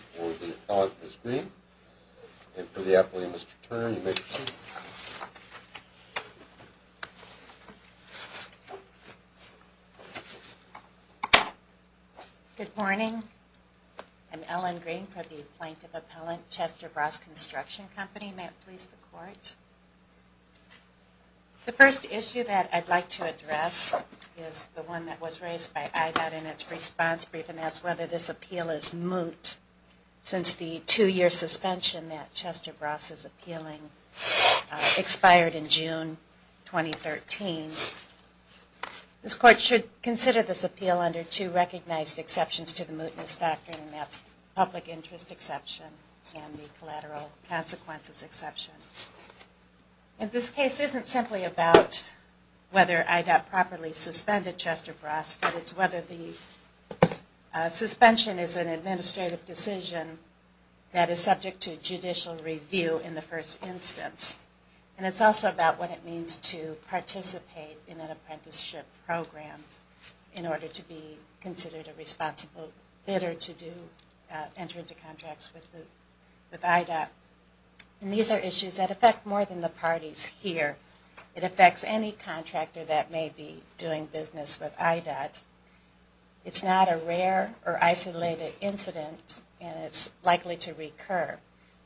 for the appellant, Ms. Green. And for the appellant, Mr. Turner, you may proceed. Good morning. I'm Ellen Green for the Plaintiff Appellant, Chester Bross Construction Company. The first issue that I'd like to address is the one that was raised by IVAD in its response brief, and that's whether this appeal is moot since the two-year suspension that Chester Bross is appealing expired in June 2013. This Court should consider this appeal under two recognized exceptions to the mootness factor, and that's the public interest exception and the collateral consequences exception. And this case isn't simply about whether IVAD properly suspended Chester Bross, but it's whether the suspension is an administrative decision that is subject to judicial review in the first instance. And it's also about what it means to participate in an apprenticeship program in order to be considered a responsible bidder to enter into contracts with IVAD. And these are issues that affect more than the parties here. It affects any contractor that may be doing business with IVAD. It's not a rare or isolated incident, and it's likely to recur.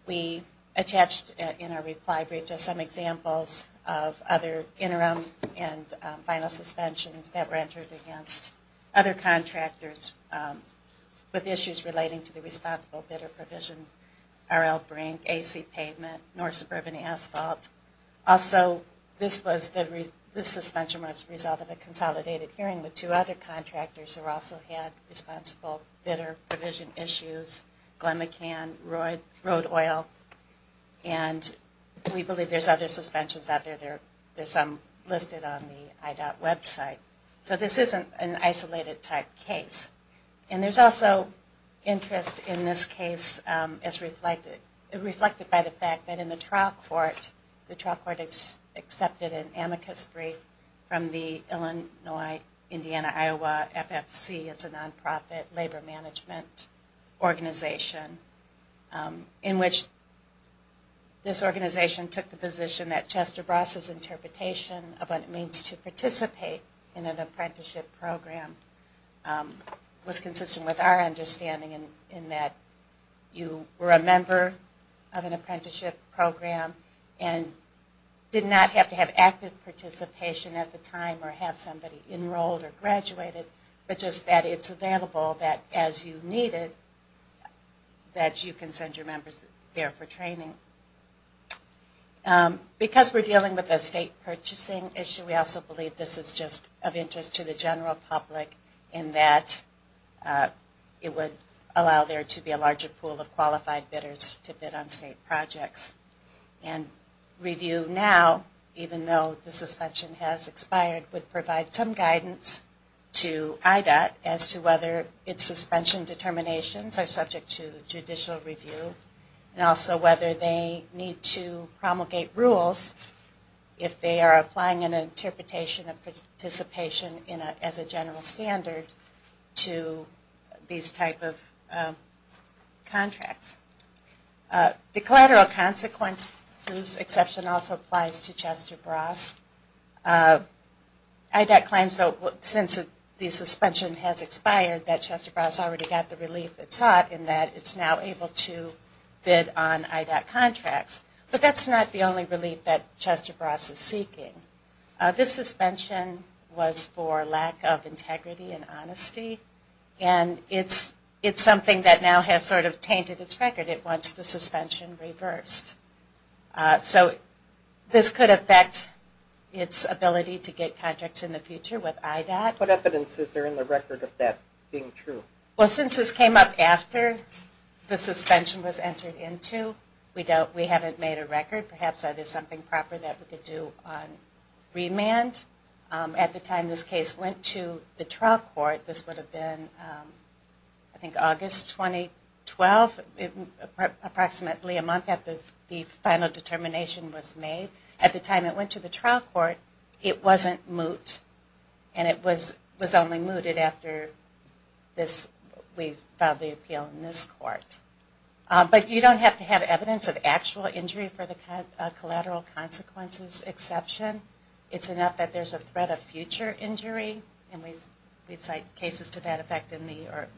We attached in our reply brief just some examples of other interim and final suspensions that were entered against other contractors with issues relating to the responsible bidder provision, RL Brink, AC Pavement, North Suburban Asphalt. Also, this suspension was the result of a consolidated hearing with two other contractors who also had responsible bidder provision issues, Glen McCann, Road Oil. And we believe there's other suspensions out there. There's some listed on the IDOT website. So this isn't an isolated type case. And there's also interest in this case as reflected by the fact that in the trial court, the trial court accepted an amicus brief from the Illinois-Indiana-Iowa FFC. It's a non-profit labor management organization in which this organization took the position that Chester Bross's interpretation of what it means to participate in an apprenticeship program was consistent with our understanding in that you were a member of an apprenticeship program and did not have to have active participation at the time or have somebody enrolled or graduated, but just that it's available that as you needed that you can send your members there for training. Because we're dealing with a state purchasing issue, we also believe this is just of interest to the general public in that it would allow there to be a larger pool of qualified bidders to bid on state projects. And Review Now, even though the suspension has expired, would provide some guidance to IDOT as to whether its suspension determinations are subject to judicial review and also whether they need to promulgate rules if they are applying an interpretation of participation as a general standard to these type of contracts. The collateral consequences exception also applies to Chester Bross. IDOT claims, since the suspension has expired, that Chester Bross already got the relief it sought in that it's now able to bid on IDOT contracts, but that's not the only relief that Chester Bross is seeking. This suspension was for lack of integrity and honesty and it's something that now has sort of tainted its record. It wants the suspension reversed. So this could affect its ability to get contracts in the future with IDOT. What evidence is there in the record of that being true? Well, since this came up after the suspension was entered into, we haven't made a record. Perhaps that is something proper that we could do on remand. At the time this case went to the trial court, this would have been I think August 2012, approximately a month after the final determination was made. At the time it went to the trial court, it wasn't moot and it was only mooted after we filed the appeal in this court. But you don't have to have evidence of actual injury for the collateral consequences exception. It's enough that there's a threat of future injury and we cite cases to that effect in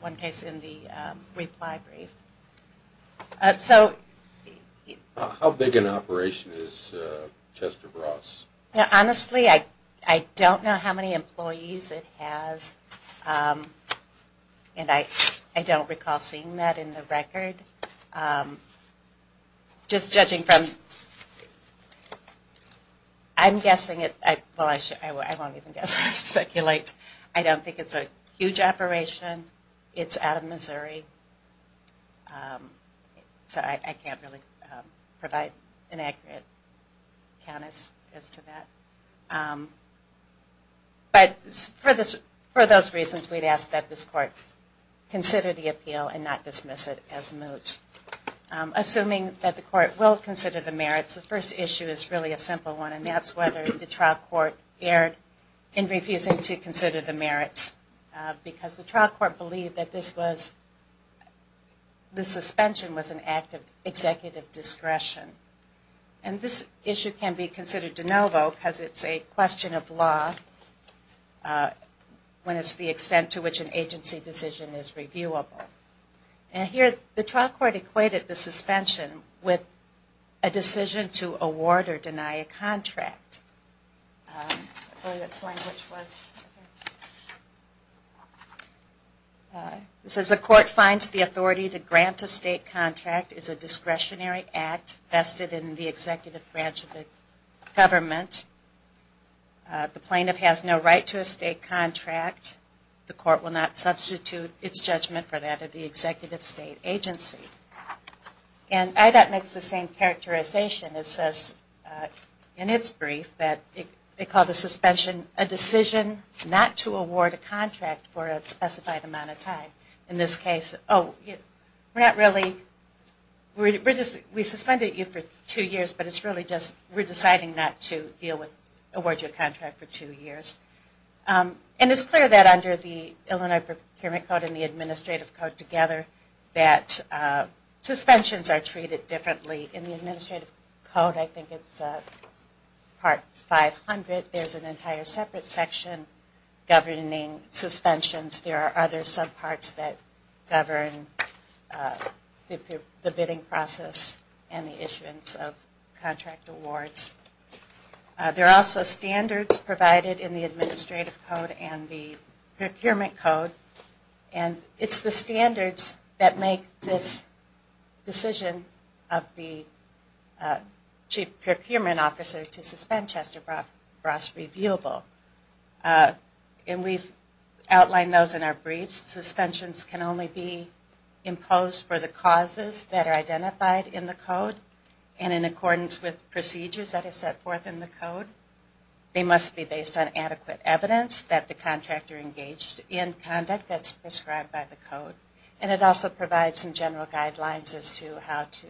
one case in the reply brief. How big an operation is Chester Bross? Honestly, I don't know how many employees it has and I don't recall seeing that in the record. Just judging from, I'm guessing, well I won't even guess, I'll speculate. I don't think it's a huge operation. It's out of Missouri. So I can't really provide an accurate count as to that. But for those reasons, we'd ask that this court consider the appeal and not dismiss it as moot. Assuming that the court will consider the merits, the first issue is really a simple one and that's whether the trial court erred in refusing to consider the merits. Because the trial court believed that the suspension was an act of executive discretion. And this issue can be considered de novo because it's a question of law when it's the extent to which an agency decision is reviewable. And here the trial court equated the suspension with a decision to award or deny a contract. It says the court finds the authority to grant a state contract is a discretionary act vested in the executive branch of the government. The plaintiff has no right to a state contract. The court will not substitute its judgment for that of the executive state agency. And IDOT makes the same characterization. It says in its brief that they called the suspension a decision not to award a contract for a specified amount of time. In this case, oh, we suspended you for two years but it's really just we're deciding not to award you a contract for two years. And it's clear that under the Illinois Procurement Code and the Administrative Code together that suspensions are treated differently. In the Administrative Code, I think it's part 500, there's an entire separate section governing suspensions. There are other subparts that govern the bidding process and the issuance of contract awards. There are also standards provided in the Administrative Code and the Procurement Code. And it's the standards that make this decision of the Chief Procurement Officer to suspend Chester Bross reviewable. And we've outlined those in our briefs. Suspensions can only be imposed for the causes that are identified in the code and in accordance with procedures that are set forth in the code. They must be based on adequate evidence that the contractor engaged in conduct that's prescribed by the code. And it also provides some general guidelines as to how to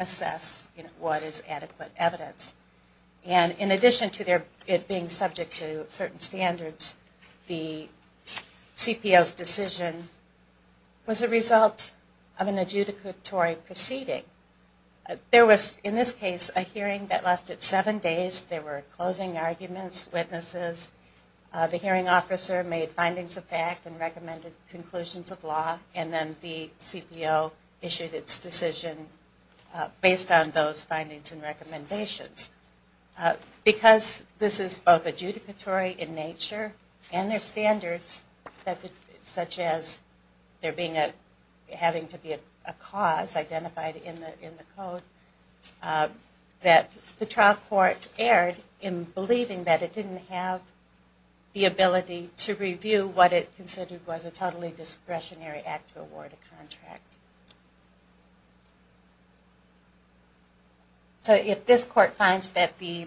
assess what is adequate evidence. And in addition to it being subject to certain standards, the CPO's decision was a result of an adjudicatory proceeding. There was, in this case, a hearing that lasted seven days. There were closing arguments, witnesses. The hearing officer made findings of fact and recommended conclusions of law. And then the CPO issued its decision based on those findings and recommendations. Because this is both adjudicatory in nature and there are standards, such as there being a, having to be a cause identified in the code, that the trial court erred in believing that it didn't have the ability to review what it considered was a totally discretionary act to award a contract. So if this court finds that the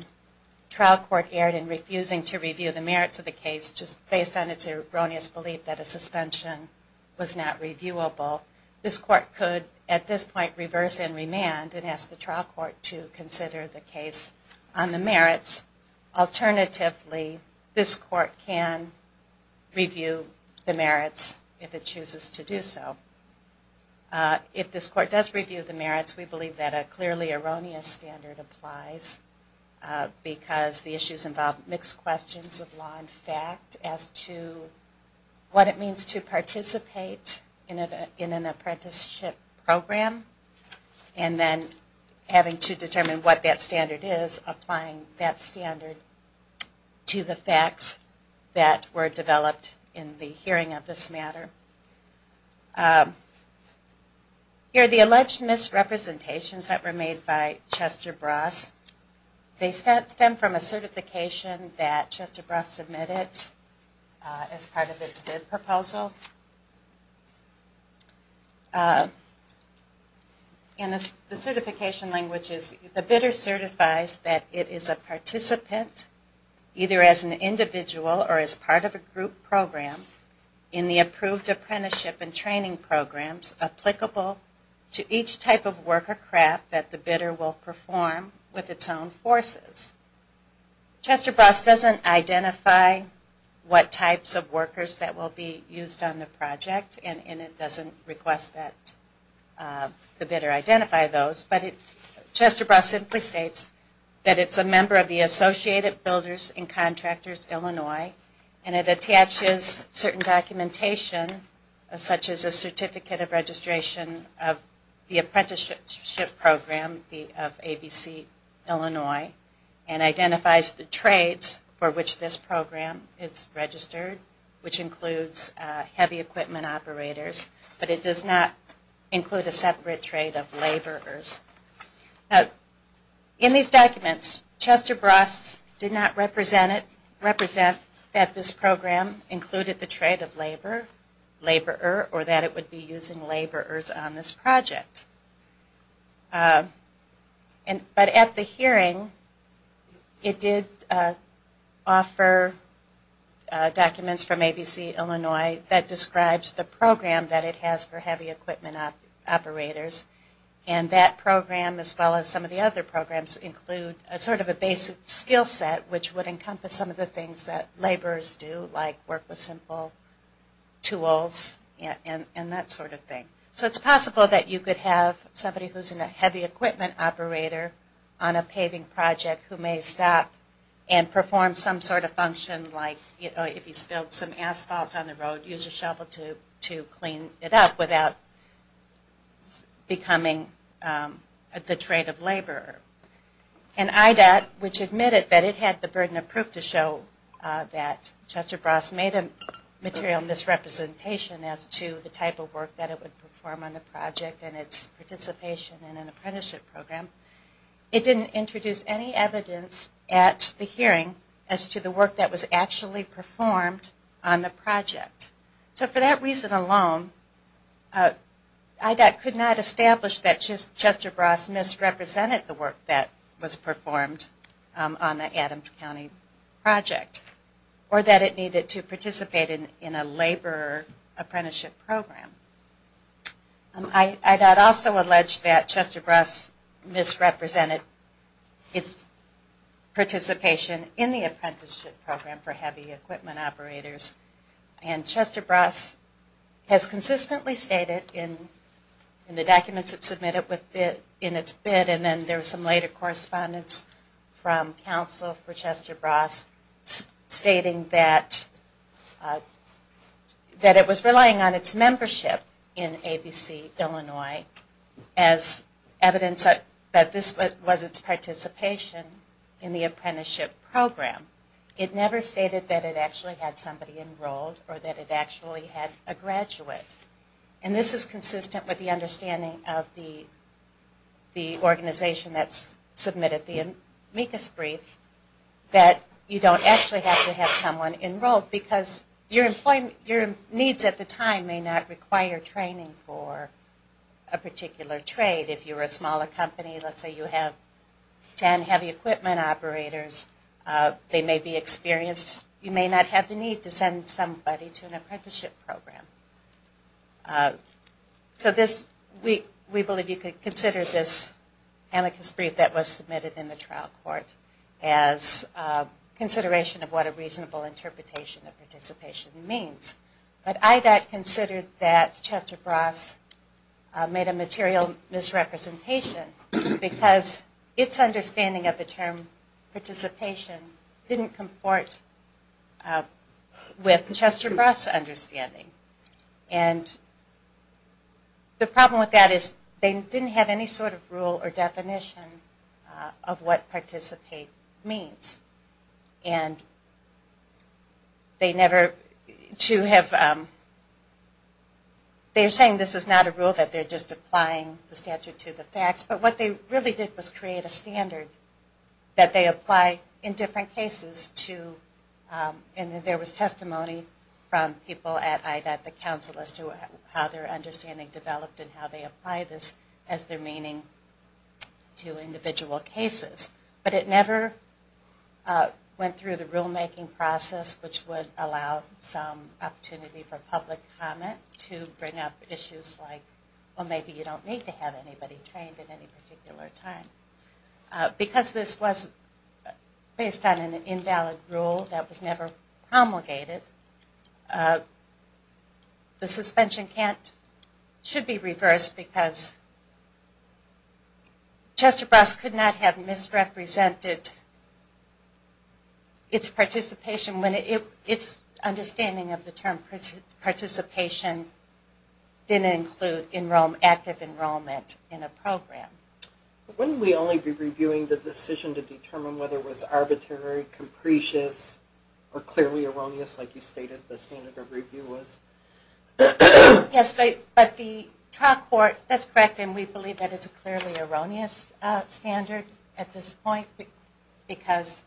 trial court erred in refusing to review the merits of the case just based on its erroneous belief that a suspension was not reviewable, this court could, at this point, reverse and remand and ask the trial court to consider the case on the merits. Alternatively, this court can review the merits if it chooses to do so. If this court does review the merits, we believe that a clearly erroneous standard applies because the issues involve mixed questions of law and fact as to what it means to participate in an apprenticeship program and then having to determine what that standard is, applying that standard to the facts that were developed in the hearing of this matter. Here are the alleged misrepresentations that were made by Chester Bras. They stem from a certification that Chester Bras submitted as part of its bid proposal. The certification language is, the bidder certifies that it is a participant, either as an individual or as part of a group program, in the approved apprenticeship and training programs applicable to each type of work or craft that the bidder will perform with its own forces. Chester Bras doesn't identify what types of workers that will be used on the project and it doesn't request that the bidder identify those, but Chester Bras simply states that it's a member of the Associated Builders and Contractors Illinois and it attaches certain documentation such as a certificate of registration of the apprenticeship program of ABC Illinois. And identifies the trades for which this program is registered, which includes heavy equipment operators, but it does not include a separate trade of laborers. In these documents, Chester Bras did not represent that this program included the trade of labor, laborer, or that it would be using laborers on this project. But at the hearing, it did offer documents from ABC Illinois that describes the program that it has for heavy equipment operators and that program as well as some of the other programs include sort of a basic skill set which would encompass some of the things that laborers do like work with simple tools and that sort of thing. So it's possible that you could have somebody who is a heavy equipment operator on a paving project who may stop and perform some sort of function like if you spilled some asphalt on the road, use a shovel to clean it up without becoming the trade of laborer. And IDOT, which admitted that it had the burden of proof to show that Chester Bras made a material misrepresentation as to the type of work that it would perform on the project and its participation in an apprenticeship program, it didn't introduce any evidence at the hearing as to the work that was actually performed on the project. So for that reason alone, IDOT could not establish that Chester Bras misrepresented the work that was performed on the Adams County project or that it needed to participate in a laborer apprenticeship program. IDOT also alleged that Chester Bras misrepresented its participation in the apprenticeship program for heavy equipment operators and Chester Bras has consistently stated in the documents it submitted in its bid and then there was some later correspondence from counsel for Chester Bras stating that it was relying on its membership. In ABC, Illinois, as evidence that this was its participation in the apprenticeship program. It never stated that it actually had somebody enrolled or that it actually had a graduate. And this is consistent with the understanding of the organization that submitted the amicus brief that you don't actually have to have someone enrolled because your needs at the time may not require you to have someone enrolled. You may require training for a particular trade. If you're a smaller company, let's say you have ten heavy equipment operators, they may be experienced. You may not have the need to send somebody to an apprenticeship program. So we believe you could consider this amicus brief that was submitted in the trial court as consideration of what a reasonable interpretation of participation means. But IDOT considered that Chester Bras made a material misrepresentation because its understanding of the term participation didn't comport with Chester Bras' understanding. And the problem with that is they didn't have any sort of rule or definition of what participate means. And they never, they're saying this is not a rule that they're just applying the statute to the facts, but what they really did was create a standard that they apply in different cases to, and there was testimony from people at IDOT. The counsel as to how their understanding developed and how they applied this as their meaning to individual cases. But it never went through the rulemaking process which would allow some opportunity for public comment to bring up issues like, well maybe you don't need to have anybody trained at any particular time. Because this was based on an invalid rule that was never promulgated, the suspension should be reversed because Chester Bras could not have misrepresented its participation when its understanding of the term participation didn't include active enrollment in a program. Wouldn't we only be reviewing the decision to determine whether it was arbitrary, capricious, or clearly erroneous like you stated the standard of review was? Yes, but the trial court, that's correct, and we believe that it's a clearly erroneous standard at this point because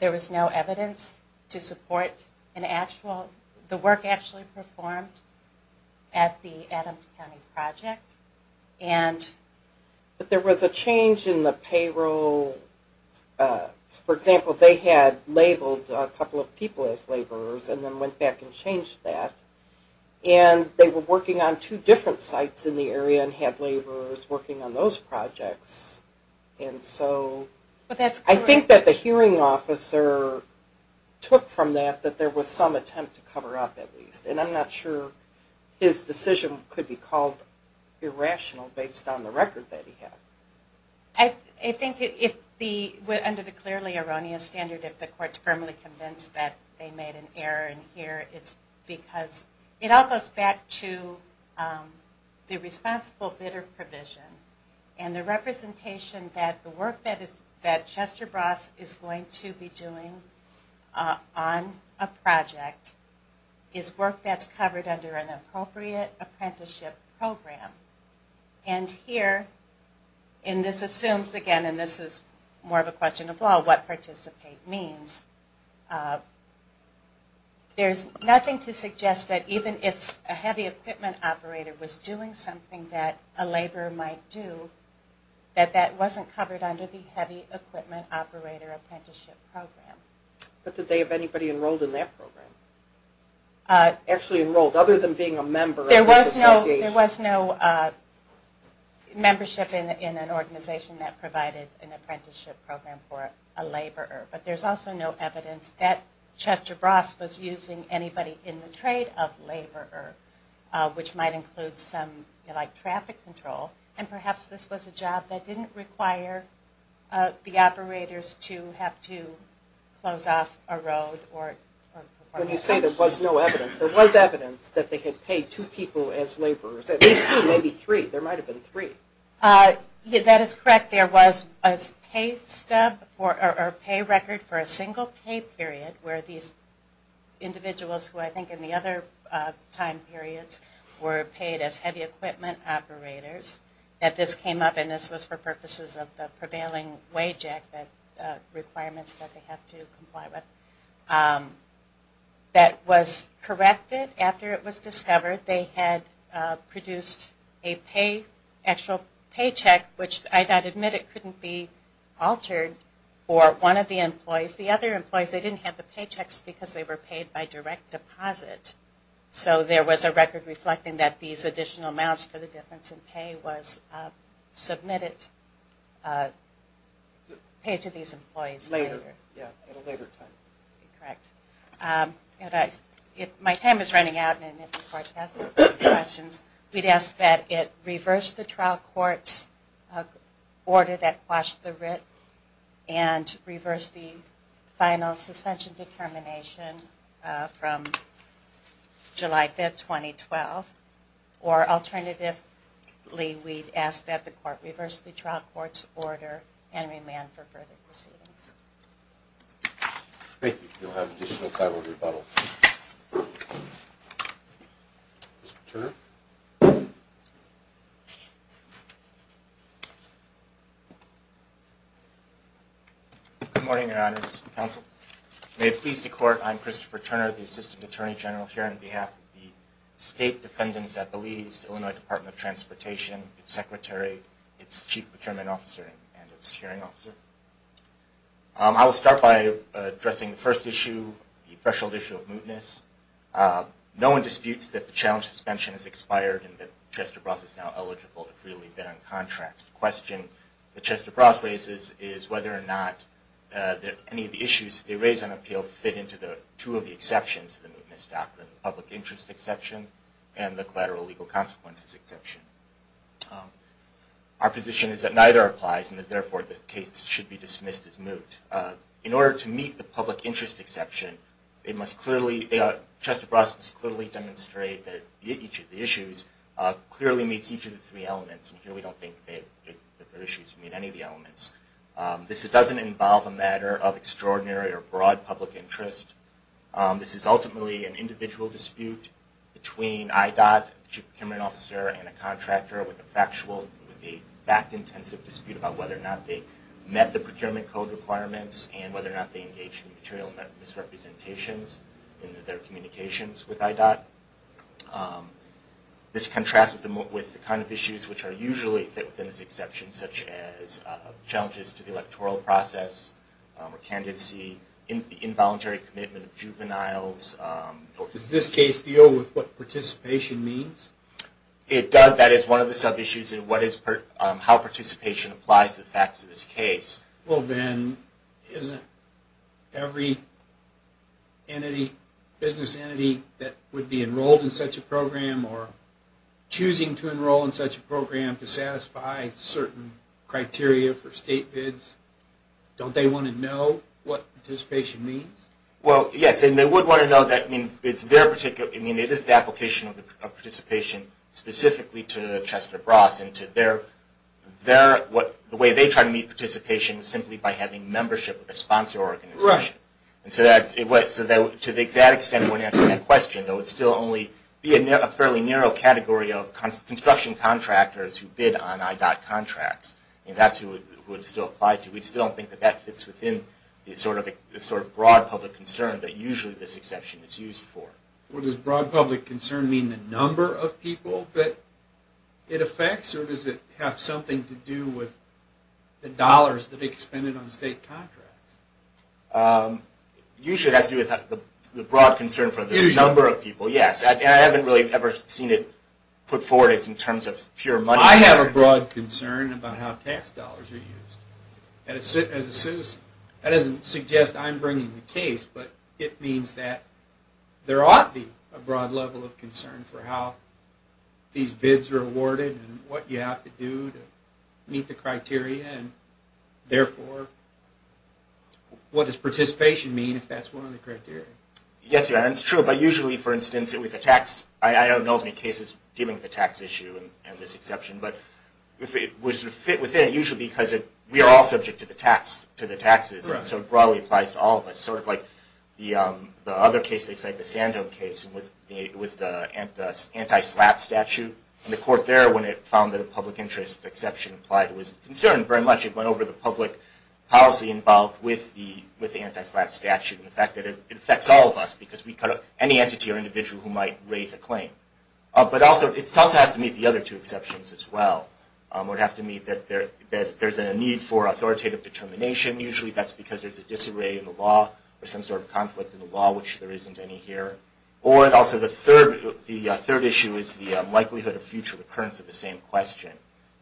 there was no evidence to support an actual, the work actually performed at the Adams County project. But there was a change in the payroll. For example, they had labeled a couple of people as laborers and then went back and changed that. And they were working on two different sites in the area and had laborers working on those projects. And so I think that the hearing officer took from that that there was some attempt to cover up at least. And I'm not sure his decision could be called irrational based on the record that he had. I think under the clearly erroneous standard if the court's firmly convinced that they made an error in here, it's because it all goes back to the responsible bidder provision. And the representation that the work that Chester Bras is going to be doing on a project is work that's covered under an appropriate apprenticeship program. And here, and this assumes again, and this is more of a question of law, what participate means, there's nothing to suggest that even if a heavy equipment operator was doing something that a laborer might do, that that wasn't covered under the heavy equipment operator apprenticeship program. But did they have anybody enrolled in that program? Actually enrolled, other than being a member of this association? There was no membership in an organization that provided an apprenticeship program for a laborer. But there's also no evidence that Chester Bras was using anybody in the trade of laborer, which might include some, like, traffic control. And perhaps this was a job that didn't require the operators to have to close off a road. When you say there was no evidence, there was evidence that they had paid two people as laborers. At least two, maybe three. There might have been three. That is correct. There was a pay stub or a pay record for a single pay period where these individuals who I think in the other time periods were paid as heavy equipment operators, that this came up and this was for purposes of the prevailing wage act requirements that they have to comply with. That was corrected after it was discovered they had produced a pay, actual paycheck, which I admit it couldn't be altered for one of the employees. The other employees, they didn't have the paychecks because they were paid by direct deposit. So there was a record reflecting that these additional amounts for the difference in pay was submitted, paid to these employees. Correct. My time is running out. We would ask that it reverse the trial court's order that quashed the writ and reverse the final suspension determination from July 5, 2012, or alternatively we would ask that the court reverse the trial court's order and remand for further proceedings. Thank you. You'll have additional time for rebuttal. Mr. Turner. Good morning, Your Honors Counsel. May it please the Court, I'm Christopher Turner, the Assistant Attorney General here on behalf of the State Defendants at Belize, Illinois Department of Transportation, its Secretary, its Chief Procurement Officer, and its Hearing Officer. I will start by addressing the first issue, the threshold issue of mootness. No one disputes that the challenge suspension has expired and that Chester Bross is now eligible to freely bid on contracts. The question that Chester Bross raises is whether or not any of the issues they raise on appeal fit into two of the exceptions to the mootness doctrine, the public interest exception and the collateral legal consequences exception. Our position is that neither applies and therefore the case should be dismissed as moot. In order to meet the public interest exception, Chester Bross must clearly demonstrate that each of the issues clearly meets each of the three elements and here we don't think that their issues meet any of the elements. This doesn't involve a matter of extraordinary or broad public interest. This is ultimately an individual dispute between IDOT, the Chief Procurement Officer, and a contractor. With a factual, fact-intensive dispute about whether or not they met the procurement code requirements and whether or not they engaged in material misrepresentations in their communications with IDOT. This contrasts with the kind of issues which are usually fit within this exception such as challenges to the electoral process, candidacy, involuntary commitment of juveniles. Does this case deal with what participation means? It does. That is one of the sub-issues in how participation applies to the facts of this case. Well then, isn't every business entity that would be enrolled in such a program or choosing to enroll in such a program to satisfy certain criteria for state bids, don't they want to know what participation means? Well, yes, and they would want to know that it is the application of participation specifically to Chester Bross and the way they try to meet participation is simply by having membership with a sponsor organization. To that extent, when answering that question, there would still only be a fairly narrow category of construction contractors who bid on IDOT contracts. That's who it would still apply to. Well, does broad public concern mean the number of people that it affects or does it have something to do with the dollars that are expended on state contracts? Usually it has to do with the broad concern for the number of people, yes. I haven't really ever seen it put forward in terms of pure money. I have a broad concern about how tax dollars are used. As a citizen, that doesn't suggest I'm bringing the case, but it means that there ought to be a broad level of concern for how these bids are awarded and what you have to do to meet the criteria, and therefore, what does participation mean if that's one of the criteria? Yes, it's true, but usually, for instance, with the tax, I don't know of any cases dealing with the tax issue and this exception, but it would sort of fit within it, usually because we already have a broad level of concern. We're all subject to the taxes, and so it broadly applies to all of us. Sort of like the other case they cite, the Sando case, it was the anti-SLAPP statute, and the court there, when it found that a public interest exception applied, it was concerned very much. It went over the public policy involved with the anti-SLAPP statute and the fact that it affects all of us because any entity or individual who might raise a claim. But it also has to meet the other two exceptions as well. It would have to meet that there's a need for authoritative determination. Usually, that's because there's a disarray in the law or some sort of conflict in the law, which there isn't any here. Or also, the third issue is the likelihood of future recurrence of the same question.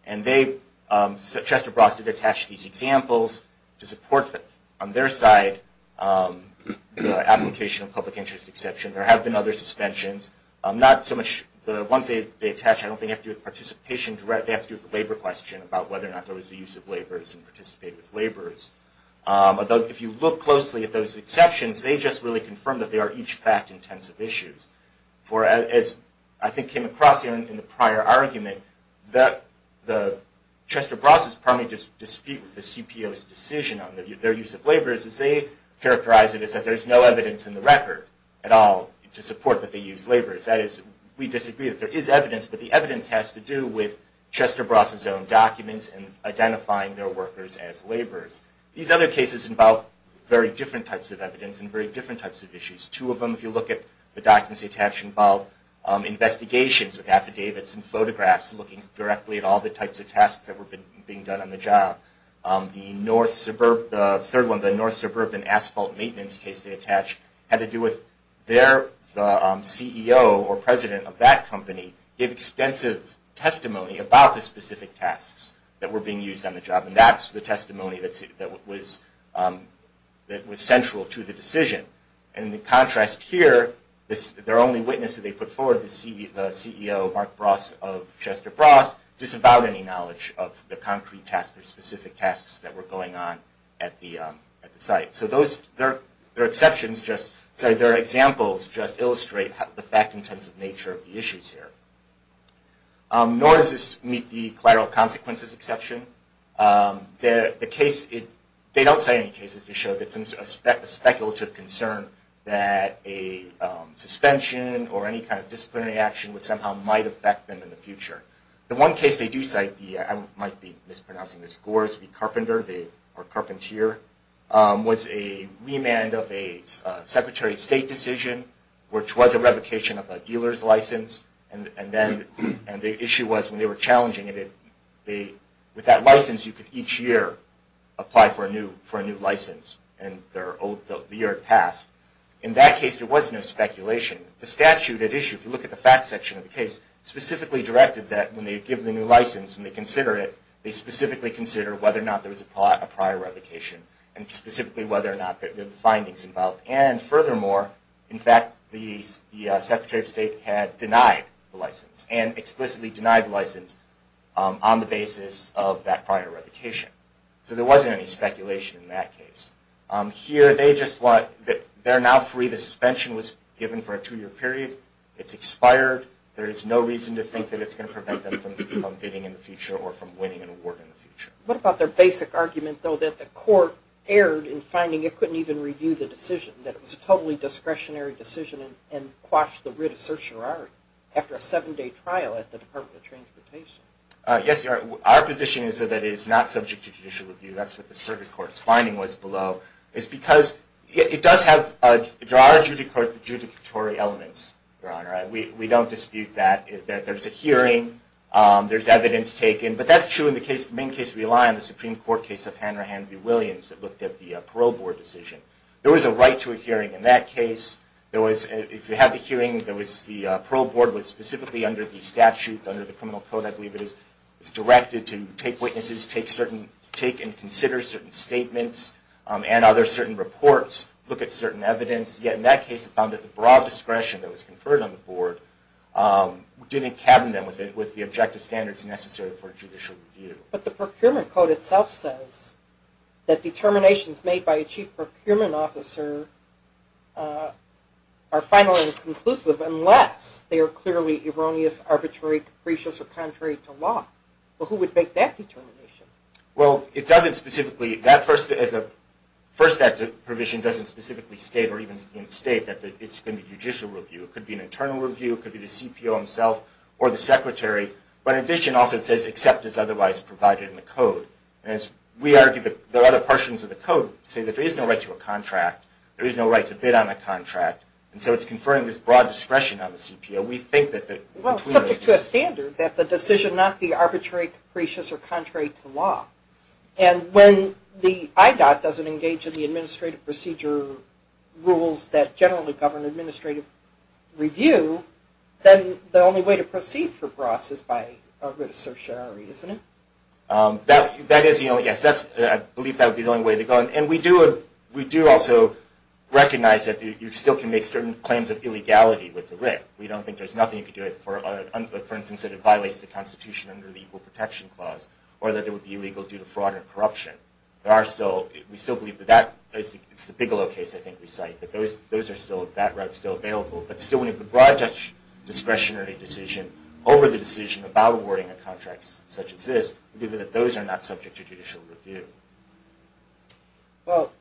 And they, Chester Brostad, attached these examples to support, on their side, the application of public interest exception. There have been other suspensions. Not so much the ones they attach. I don't think they have to do with participation. They have to do with the labor question about whether or not there was the use of laborers and participate with laborers. Although, if you look closely at those exceptions, they just really confirm that they are each fact-intensive issues. As I think came across in the prior argument, Chester Brostad's primary dispute with the CPO's decision on their use of laborers is they characterize it as that there's no evidence in the record at all to support that they use laborers. That is, we disagree that there is evidence, but the evidence has to do with Chester Brostad's own documents and identifying their workers as laborers. These other cases involve very different types of evidence and very different types of issues. Two of them, if you look at the documents they attach, involve investigations with affidavits and photographs looking directly at all the types of tasks that were being done on the job. The third one, the North Suburban Asphalt Maintenance case they attach, had to do with the CEO or president of that company giving extensive testimony about the specific tasks that were being used on the job. That's the testimony that was central to the decision. In contrast here, their only witness that they put forward, the CEO, Mark Brostad of Chester Brostad, disavowed any knowledge of the concrete tasks or specific tasks that were going on at the site. Their examples just illustrate the fact-intensive nature of the issues here. Nor does this meet the collateral consequences exception. They don't cite any cases to show that it's a speculative concern that a suspension or any kind of disciplinary action would somehow might affect them in the future. The one case they do cite, I might be mispronouncing this, was a remand of a Secretary of State decision, which was a revocation of a dealer's license. The issue was when they were challenging it, with that license you could each year apply for a new license. In that case there was no speculation. The statute at issue, if you look at the fact section of the case, specifically directed that when they give the new license, when they consider it, they specifically consider whether or not there was a prior revocation and specifically whether or not there were findings involved. And furthermore, in fact, the Secretary of State had denied the license and explicitly denied the license on the basis of that prior revocation. So there wasn't any speculation in that case. Here they just want, they're now free. The suspension was given for a two-year period. It's expired. There is no reason to think that it's going to prevent them from bidding in the future or from winning an award in the future. What about their basic argument, though, that the Court erred in finding it couldn't even review the decision, that it was a totally discretionary decision and quashed the writ of certiorari after a seven-day trial at the Department of Transportation? Yes, Your Honor. Our position is that it is not subject to judicial review. That's what the Circuit Court's finding was below. It's because it does have there are adjudicatory elements, Your Honor. We don't dispute that. There's a hearing. There's evidence taken. But that's true in the main case we rely on, the Supreme Court case of Hanrahan v. Williams that looked at the parole board decision. There was a right to a hearing in that case. If you had the hearing, the parole board was specifically under the statute, under the criminal code I believe it is, directed to take witnesses, take and consider certain statements and other certain reports, look at certain evidence. Yet in that case it was found that the broad discretion that was conferred on the board didn't cabin them with the objective standards necessary for judicial review. But the procurement code itself says that determinations made by a chief procurement officer are final and conclusive unless they are clearly erroneous, arbitrary, capricious, or contrary to law. Well, who would make that determination? Well, it doesn't specifically, that first act of provision doesn't specifically state or even instate that it's going to be judicial review. It could be an internal review. It could be the CPO himself or the secretary. But in addition also it says except as otherwise provided in the code. And we argue that there are other portions of the code that say that there is no right to a contract. There is no right to bid on a contract. And so it's conferring this broad discretion on the CPO. We think that between the two. Well, subject to a standard that the decision not be arbitrary, capricious, or contrary to law. And when the IDOT doesn't engage in the administrative procedure rules that generally govern administrative review, then the only way to proceed for BROSS is by writ of certiorari, isn't it? That is, yes, I believe that would be the only way to go. And we do also recognize that you still can make certain claims of illegality with the writ. We don't think there's nothing you can do, for instance, that it violates the Constitution under the Equal Protection Clause or that it would be illegal due to fraud or corruption. There are still, we still believe that that, it's the Bigelow case I think we cite, that those are still, that route is still available. But still when you have a broad discretionary decision over the decision about awarding a contract such as this, we believe that those are not subject to judicial review. Well,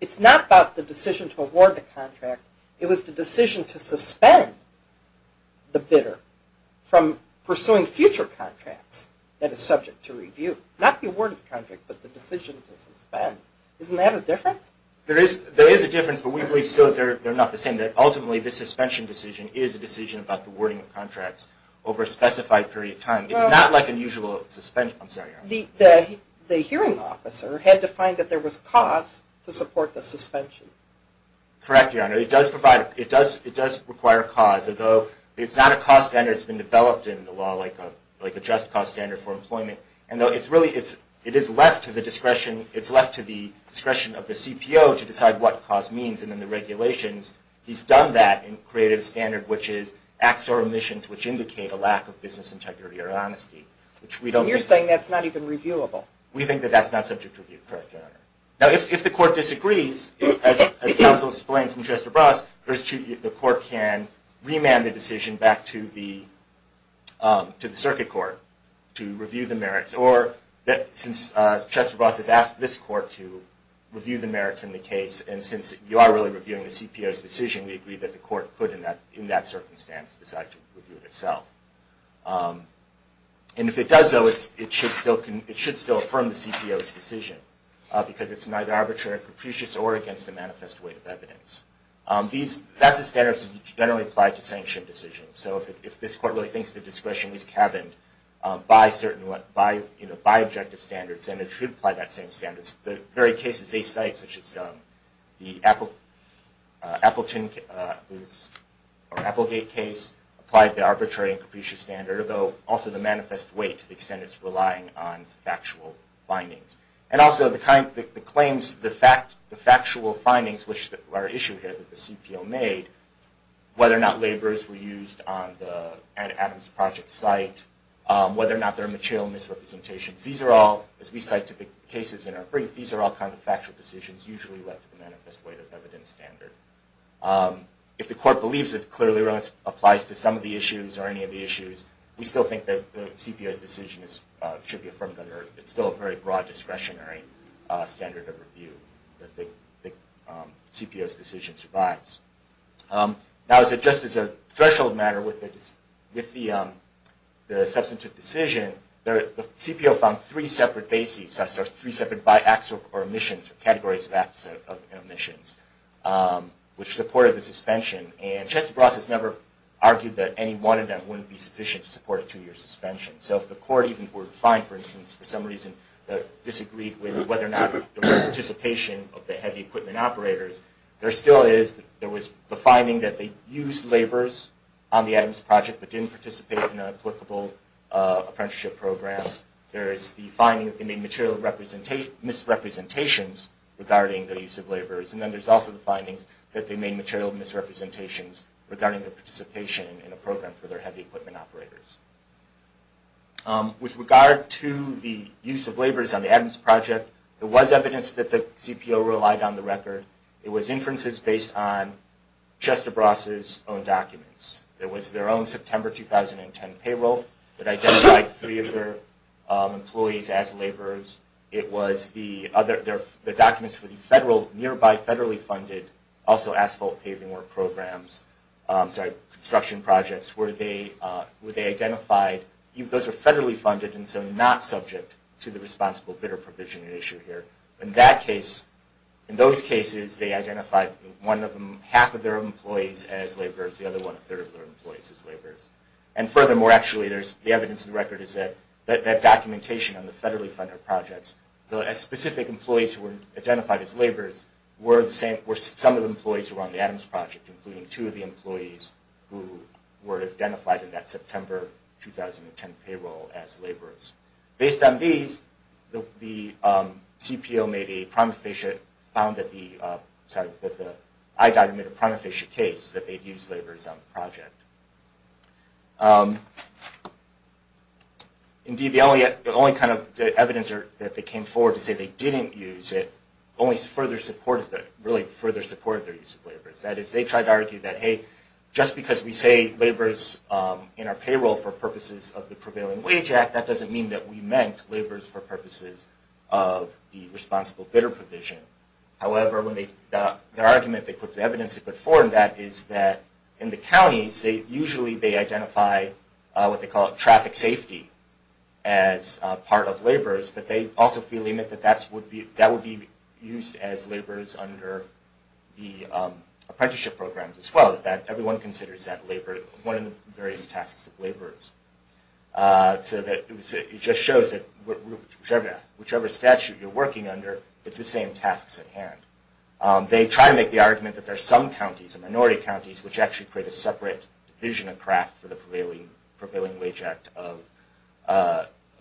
it's not about the decision to award the contract. It was the decision to suspend the bidder from pursuing future contracts that is subject to review. Not the award of the contract, but the decision to suspend. Isn't that a difference? There is a difference, but we believe still that they're not the same, that ultimately the suspension decision is a decision about the awarding of contracts over a specified period of time. It's not like an usual suspension, I'm sorry. The hearing officer had to find that there was cause to support the suspension. Correct, Your Honor. It does provide, it does require a cause although it's not a cost standard that's been developed in the law like a just cause standard for employment. And though it's really, it is left to the discretion it's left to the discretion of the CPO to decide what cause means in the regulations. He's done that and created a standard which is acts or omissions which indicate a lack of business integrity or honesty. You're saying that's not even reviewable? We think that that's not subject to review, correct, Your Honor. Now if the court disagrees, as counsel explained from Chester Bras, the court can remand the decision back to the circuit court to review the merits or since Chester Bras has asked this court to review the merits in the case and since you are really reviewing the CPO's decision, we agree that the court could in that circumstance decide to review it itself. And if it does though, it should still affirm the CPO's decision because it's neither arbitrary or capricious or against a manifest weight of evidence. That's the standards that generally apply to sanction decisions. So if this court really thinks the discretion is caverned by certain by objective standards, then it should apply that same standard. The very cases they cite such as the Appleton case or Applegate case applied the arbitrary and capricious standard although also the manifest weight to the extent it's relying on factual findings. And also the claims, the factual findings which are issued here that the CPO made whether or not labors were used on the Adams Project site, whether or not there are material misrepresentations. These are all as we cite to the cases in our brief, these are all kind of factual decisions usually left to the manifest weight of evidence standard. If the court believes it clearly applies to some of the issues or any of the issues, we still think that the CPO's decision should be affirmed under, it's still a very broad discretionary standard of review that the CPO made. Now just as a threshold matter with the substantive decision, the CPO found three separate bases or three separate by acts or omissions or categories of acts and omissions which supported the suspension. And Chester Bross has never argued that any one of them wouldn't be sufficient to support a two year suspension. So if the court even were to find for instance for some reason disagreed with whether or not there was participation of the heavy equipment operators, there still is, there was the finding that they used labors on the Adams Project but didn't participate in an applicable apprenticeship program. There is the finding that they made material misrepresentations regarding the use of labors. And then there's also the findings that they made material misrepresentations regarding the participation in a program for their heavy equipment operators. With regard to the use of labors on the Adams Project, there was evidence that the it was inferences based on Chester Bross' own documents. It was their own September 2010 payroll that identified three of their employees as labors. It was the other, the documents for the federal, nearby federally funded, also asphalt paving work programs, sorry, construction projects, where they identified, those were federally funded and so not subject to the responsible bidder provision issue here. In that case, in those cases, they identified one of them, half of their employees as labors, the other one-third of their employees as labors. And furthermore actually, there's the evidence in the record is that documentation on the federally funded projects, the specific employees who were identified as labors were some of the employees who were on the Adams Project, including two of the employees who were identified in that September 2010 payroll as labors. Based on these, the Prima Fiscia found that the, sorry, that the, I documented a Prima Fiscia case that they'd used labors on the project. Indeed, the only kind of evidence that they came forward to say they didn't use it, only further supported, really further supported their use of labors. That is, they tried to argue that, hey, just because we say labors in our payroll for purposes of the Prevailing Wage Act, that doesn't mean that we meant labors for purposes of the Responsible Bidder provision. However, their argument, the evidence they put forward on that is that in the counties, usually they identify what they call traffic safety as part of labors, but they also feel that that would be used as labors under the apprenticeship programs as well, that everyone considers that labor one of the various tasks of labors. So that it just shows that whichever statute you're working under it's the same tasks at hand. They try to make the argument that there's some counties, minority counties, which actually create a separate division of craft for the Prevailing Wage Act of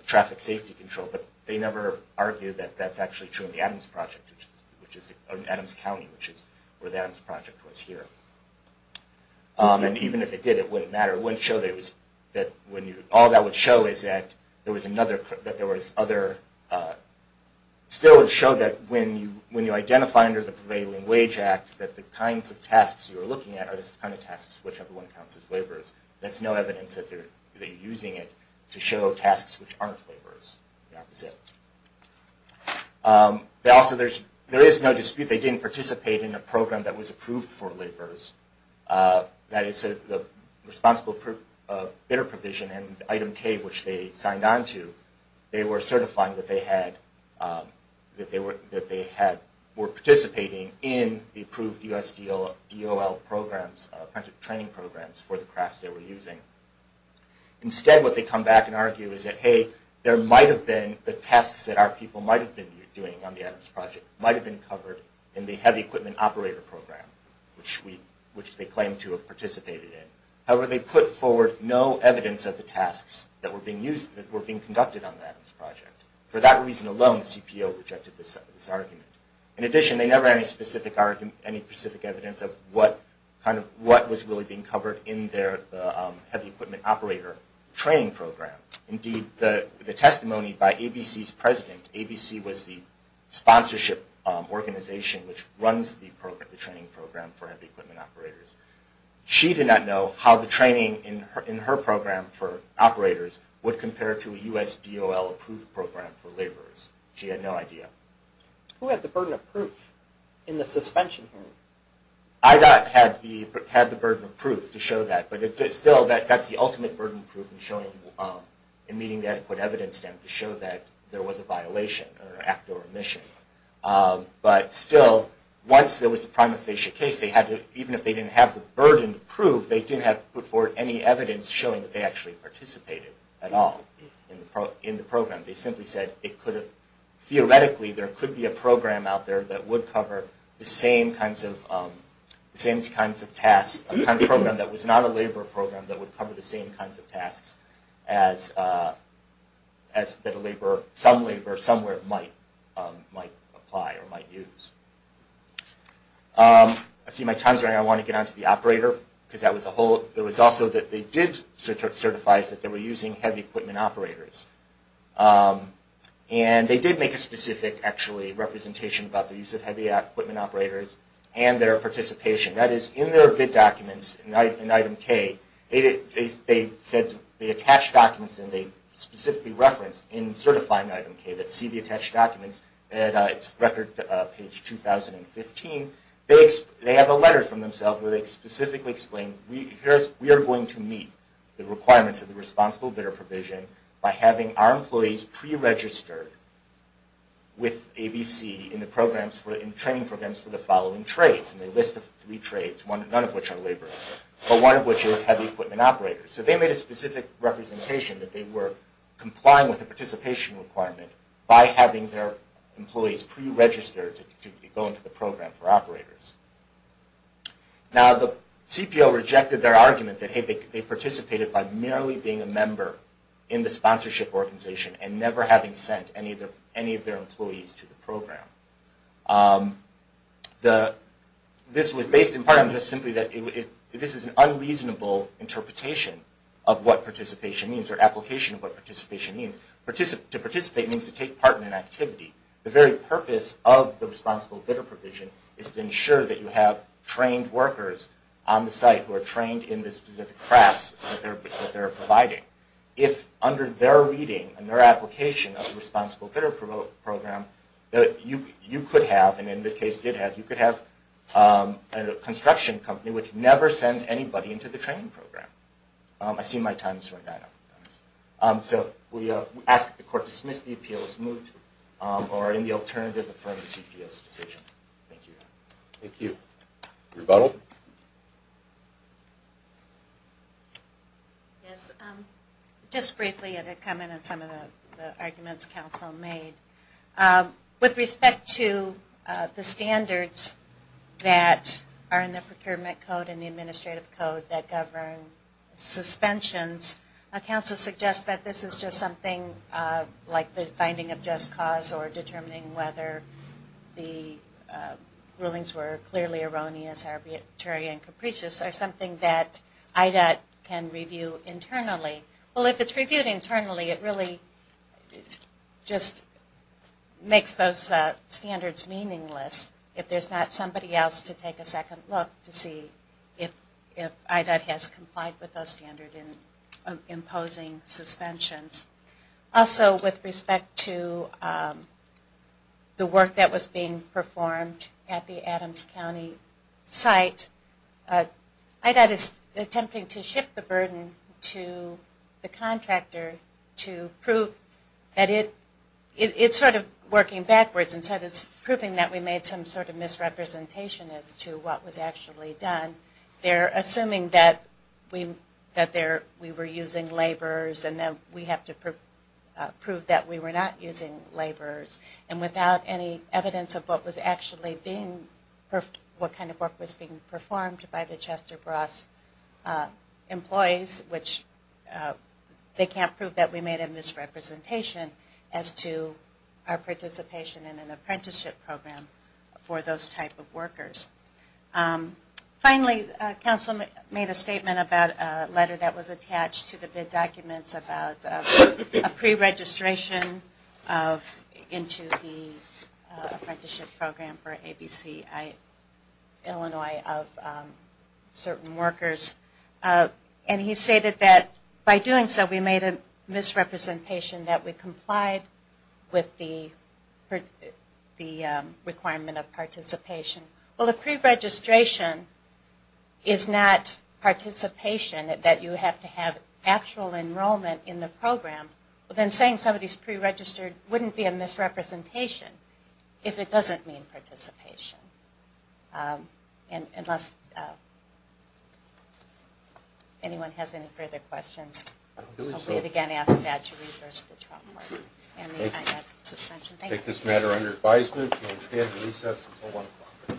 traffic safety control, but they never argue that that's actually true in the Adams Project, which is Adams County, which is where the Adams Project was here. And even if it did, it wouldn't matter. It wouldn't show that it was, that when you, all that would show is that there was another, that there was other, still would show that when you identify under the Prevailing Wage Act that the kinds of tasks you're looking at are the kind of tasks which everyone counts as labors. That's no evidence that they're using it to show tasks which aren't labors. They also, there is no dispute, they didn't participate in a program that was approved for labors. That is the Responsible Bidder Provision and Item K, which they signed on to, they were certifying that they had that they were participating in the approved USDOL programs, training programs for the crafts they were using. Instead what they come back and argue is that hey there might have been the tasks that our people might have been doing on the Adams Project might have been covered in the Heavy Equipment Operator Program, which they claim to have participated in. However, they put forward no evidence of the tasks that were being used, that were being conducted on the Adams Project. For that reason alone, CPO rejected this argument. In addition they never had any specific evidence of what was really being covered in their Heavy Equipment Operator training program. Indeed, the testimony by ABC's president, ABC was the sponsorship organization which runs the training program for Heavy Equipment Operators. She did not know how the training in her program for operators would compare to a USDOL approved program for labors. She had no idea. Who had the burden of proof in the suspension hearing? IDOT had the burden of proof to show that, but it still that's the ultimate burden of proof in showing, in meeting the adequate evidence to show that there was a violation or an act or omission. But still, once there was a prima facie case, even if they didn't have the burden to prove, they didn't have to put forward any evidence showing that they actually participated at all in the program. They simply said, theoretically there could be a program out there that would cover the same kinds of tasks, a program that was not a labor program that would cover the same kinds of tasks that some labor somewhere might apply or might use. I see my time is running out. I want to get on to the operator. It was also that they did certify that they were using Heavy Equipment Operators. They did make a specific representation about the use of Heavy Equipment Operators and their participation. That is, in their bid documents, in item K, they attached documents and they specifically referenced in certifying item K that see the attached documents at record page 2015, they have a letter from themselves where they specifically explain, we are going to meet the requirements of the Responsible Bidder Provision by having our employees pre-registered with ABC in the training programs for the following trades. They list three trades, none of which are labor, but one of which is Heavy Equipment Operators. So they made a specific representation that they were complying with the participation requirement by having their employees pre-registered to go into the program for operators. Now, the CPO rejected their argument that they participated by merely being a member in the sponsorship organization and never having sent any of their employees to the program. This was based in part simply that this is an unreasonable interpretation of what participation means or application of what participation means. To participate means to take part in an activity. The very purpose of the Responsible Bidder Provision is to ensure that you have trained workers on the site who are trained in the specific crafts that they are providing. If under their reading and their application of the Responsible Bidder Program, you could have and in this case did have, you could have a construction company which never sends anybody into the training program. I see my times right now. So we ask that the Court dismiss the appeal as moot or in the alternative, affirm the CPO's decision. Thank you. Thank you. Rebuttal. Yes, just briefly a comment on some of the arguments Council made. With respect to the standards that are in the Procurement Code and the Administrative Code that govern suspensions, Council suggests that this is just something like the finding of just cause or determining whether the rulings were clearly erroneous, arbitrary, and capricious are something that IDOT can review internally. Well, if it's reviewed internally, it really just makes those standards. We've got somebody else to take a second look to see if IDOT has complied with those standards in imposing suspensions. Also, with respect to the work that was being performed at the Adams County site, IDOT is attempting to shift the burden to the contractor to prove that it, it's sort of working backwards instead of proving that we made some sort of misrepresentation as to what was actually done. They're assuming that we were using laborers and that we have to prove that we were not using laborers. And without any evidence of what was actually being, what kind of work was being performed by the Chester Brass employees, which they can't prove that we made a misrepresentation as to our participation in an apprenticeship program for those type of workers. Finally, Council made a statement about a letter that was attached to the bid documents about a preregistration of, into the apprenticeship program for ABCI Illinois of certain workers. And he stated that by doing so we made a misrepresentation that we complied with the requirement of participation. Well, a preregistration is not participation that you have to have actual enrollment in the program. But then saying somebody's preregistered wouldn't be a misrepresentation if it doesn't mean participation. Unless anyone has any further questions. I will again ask that you reverse the chalkboard. I take this matter under advisement. We will stand at recess until 1 o'clock.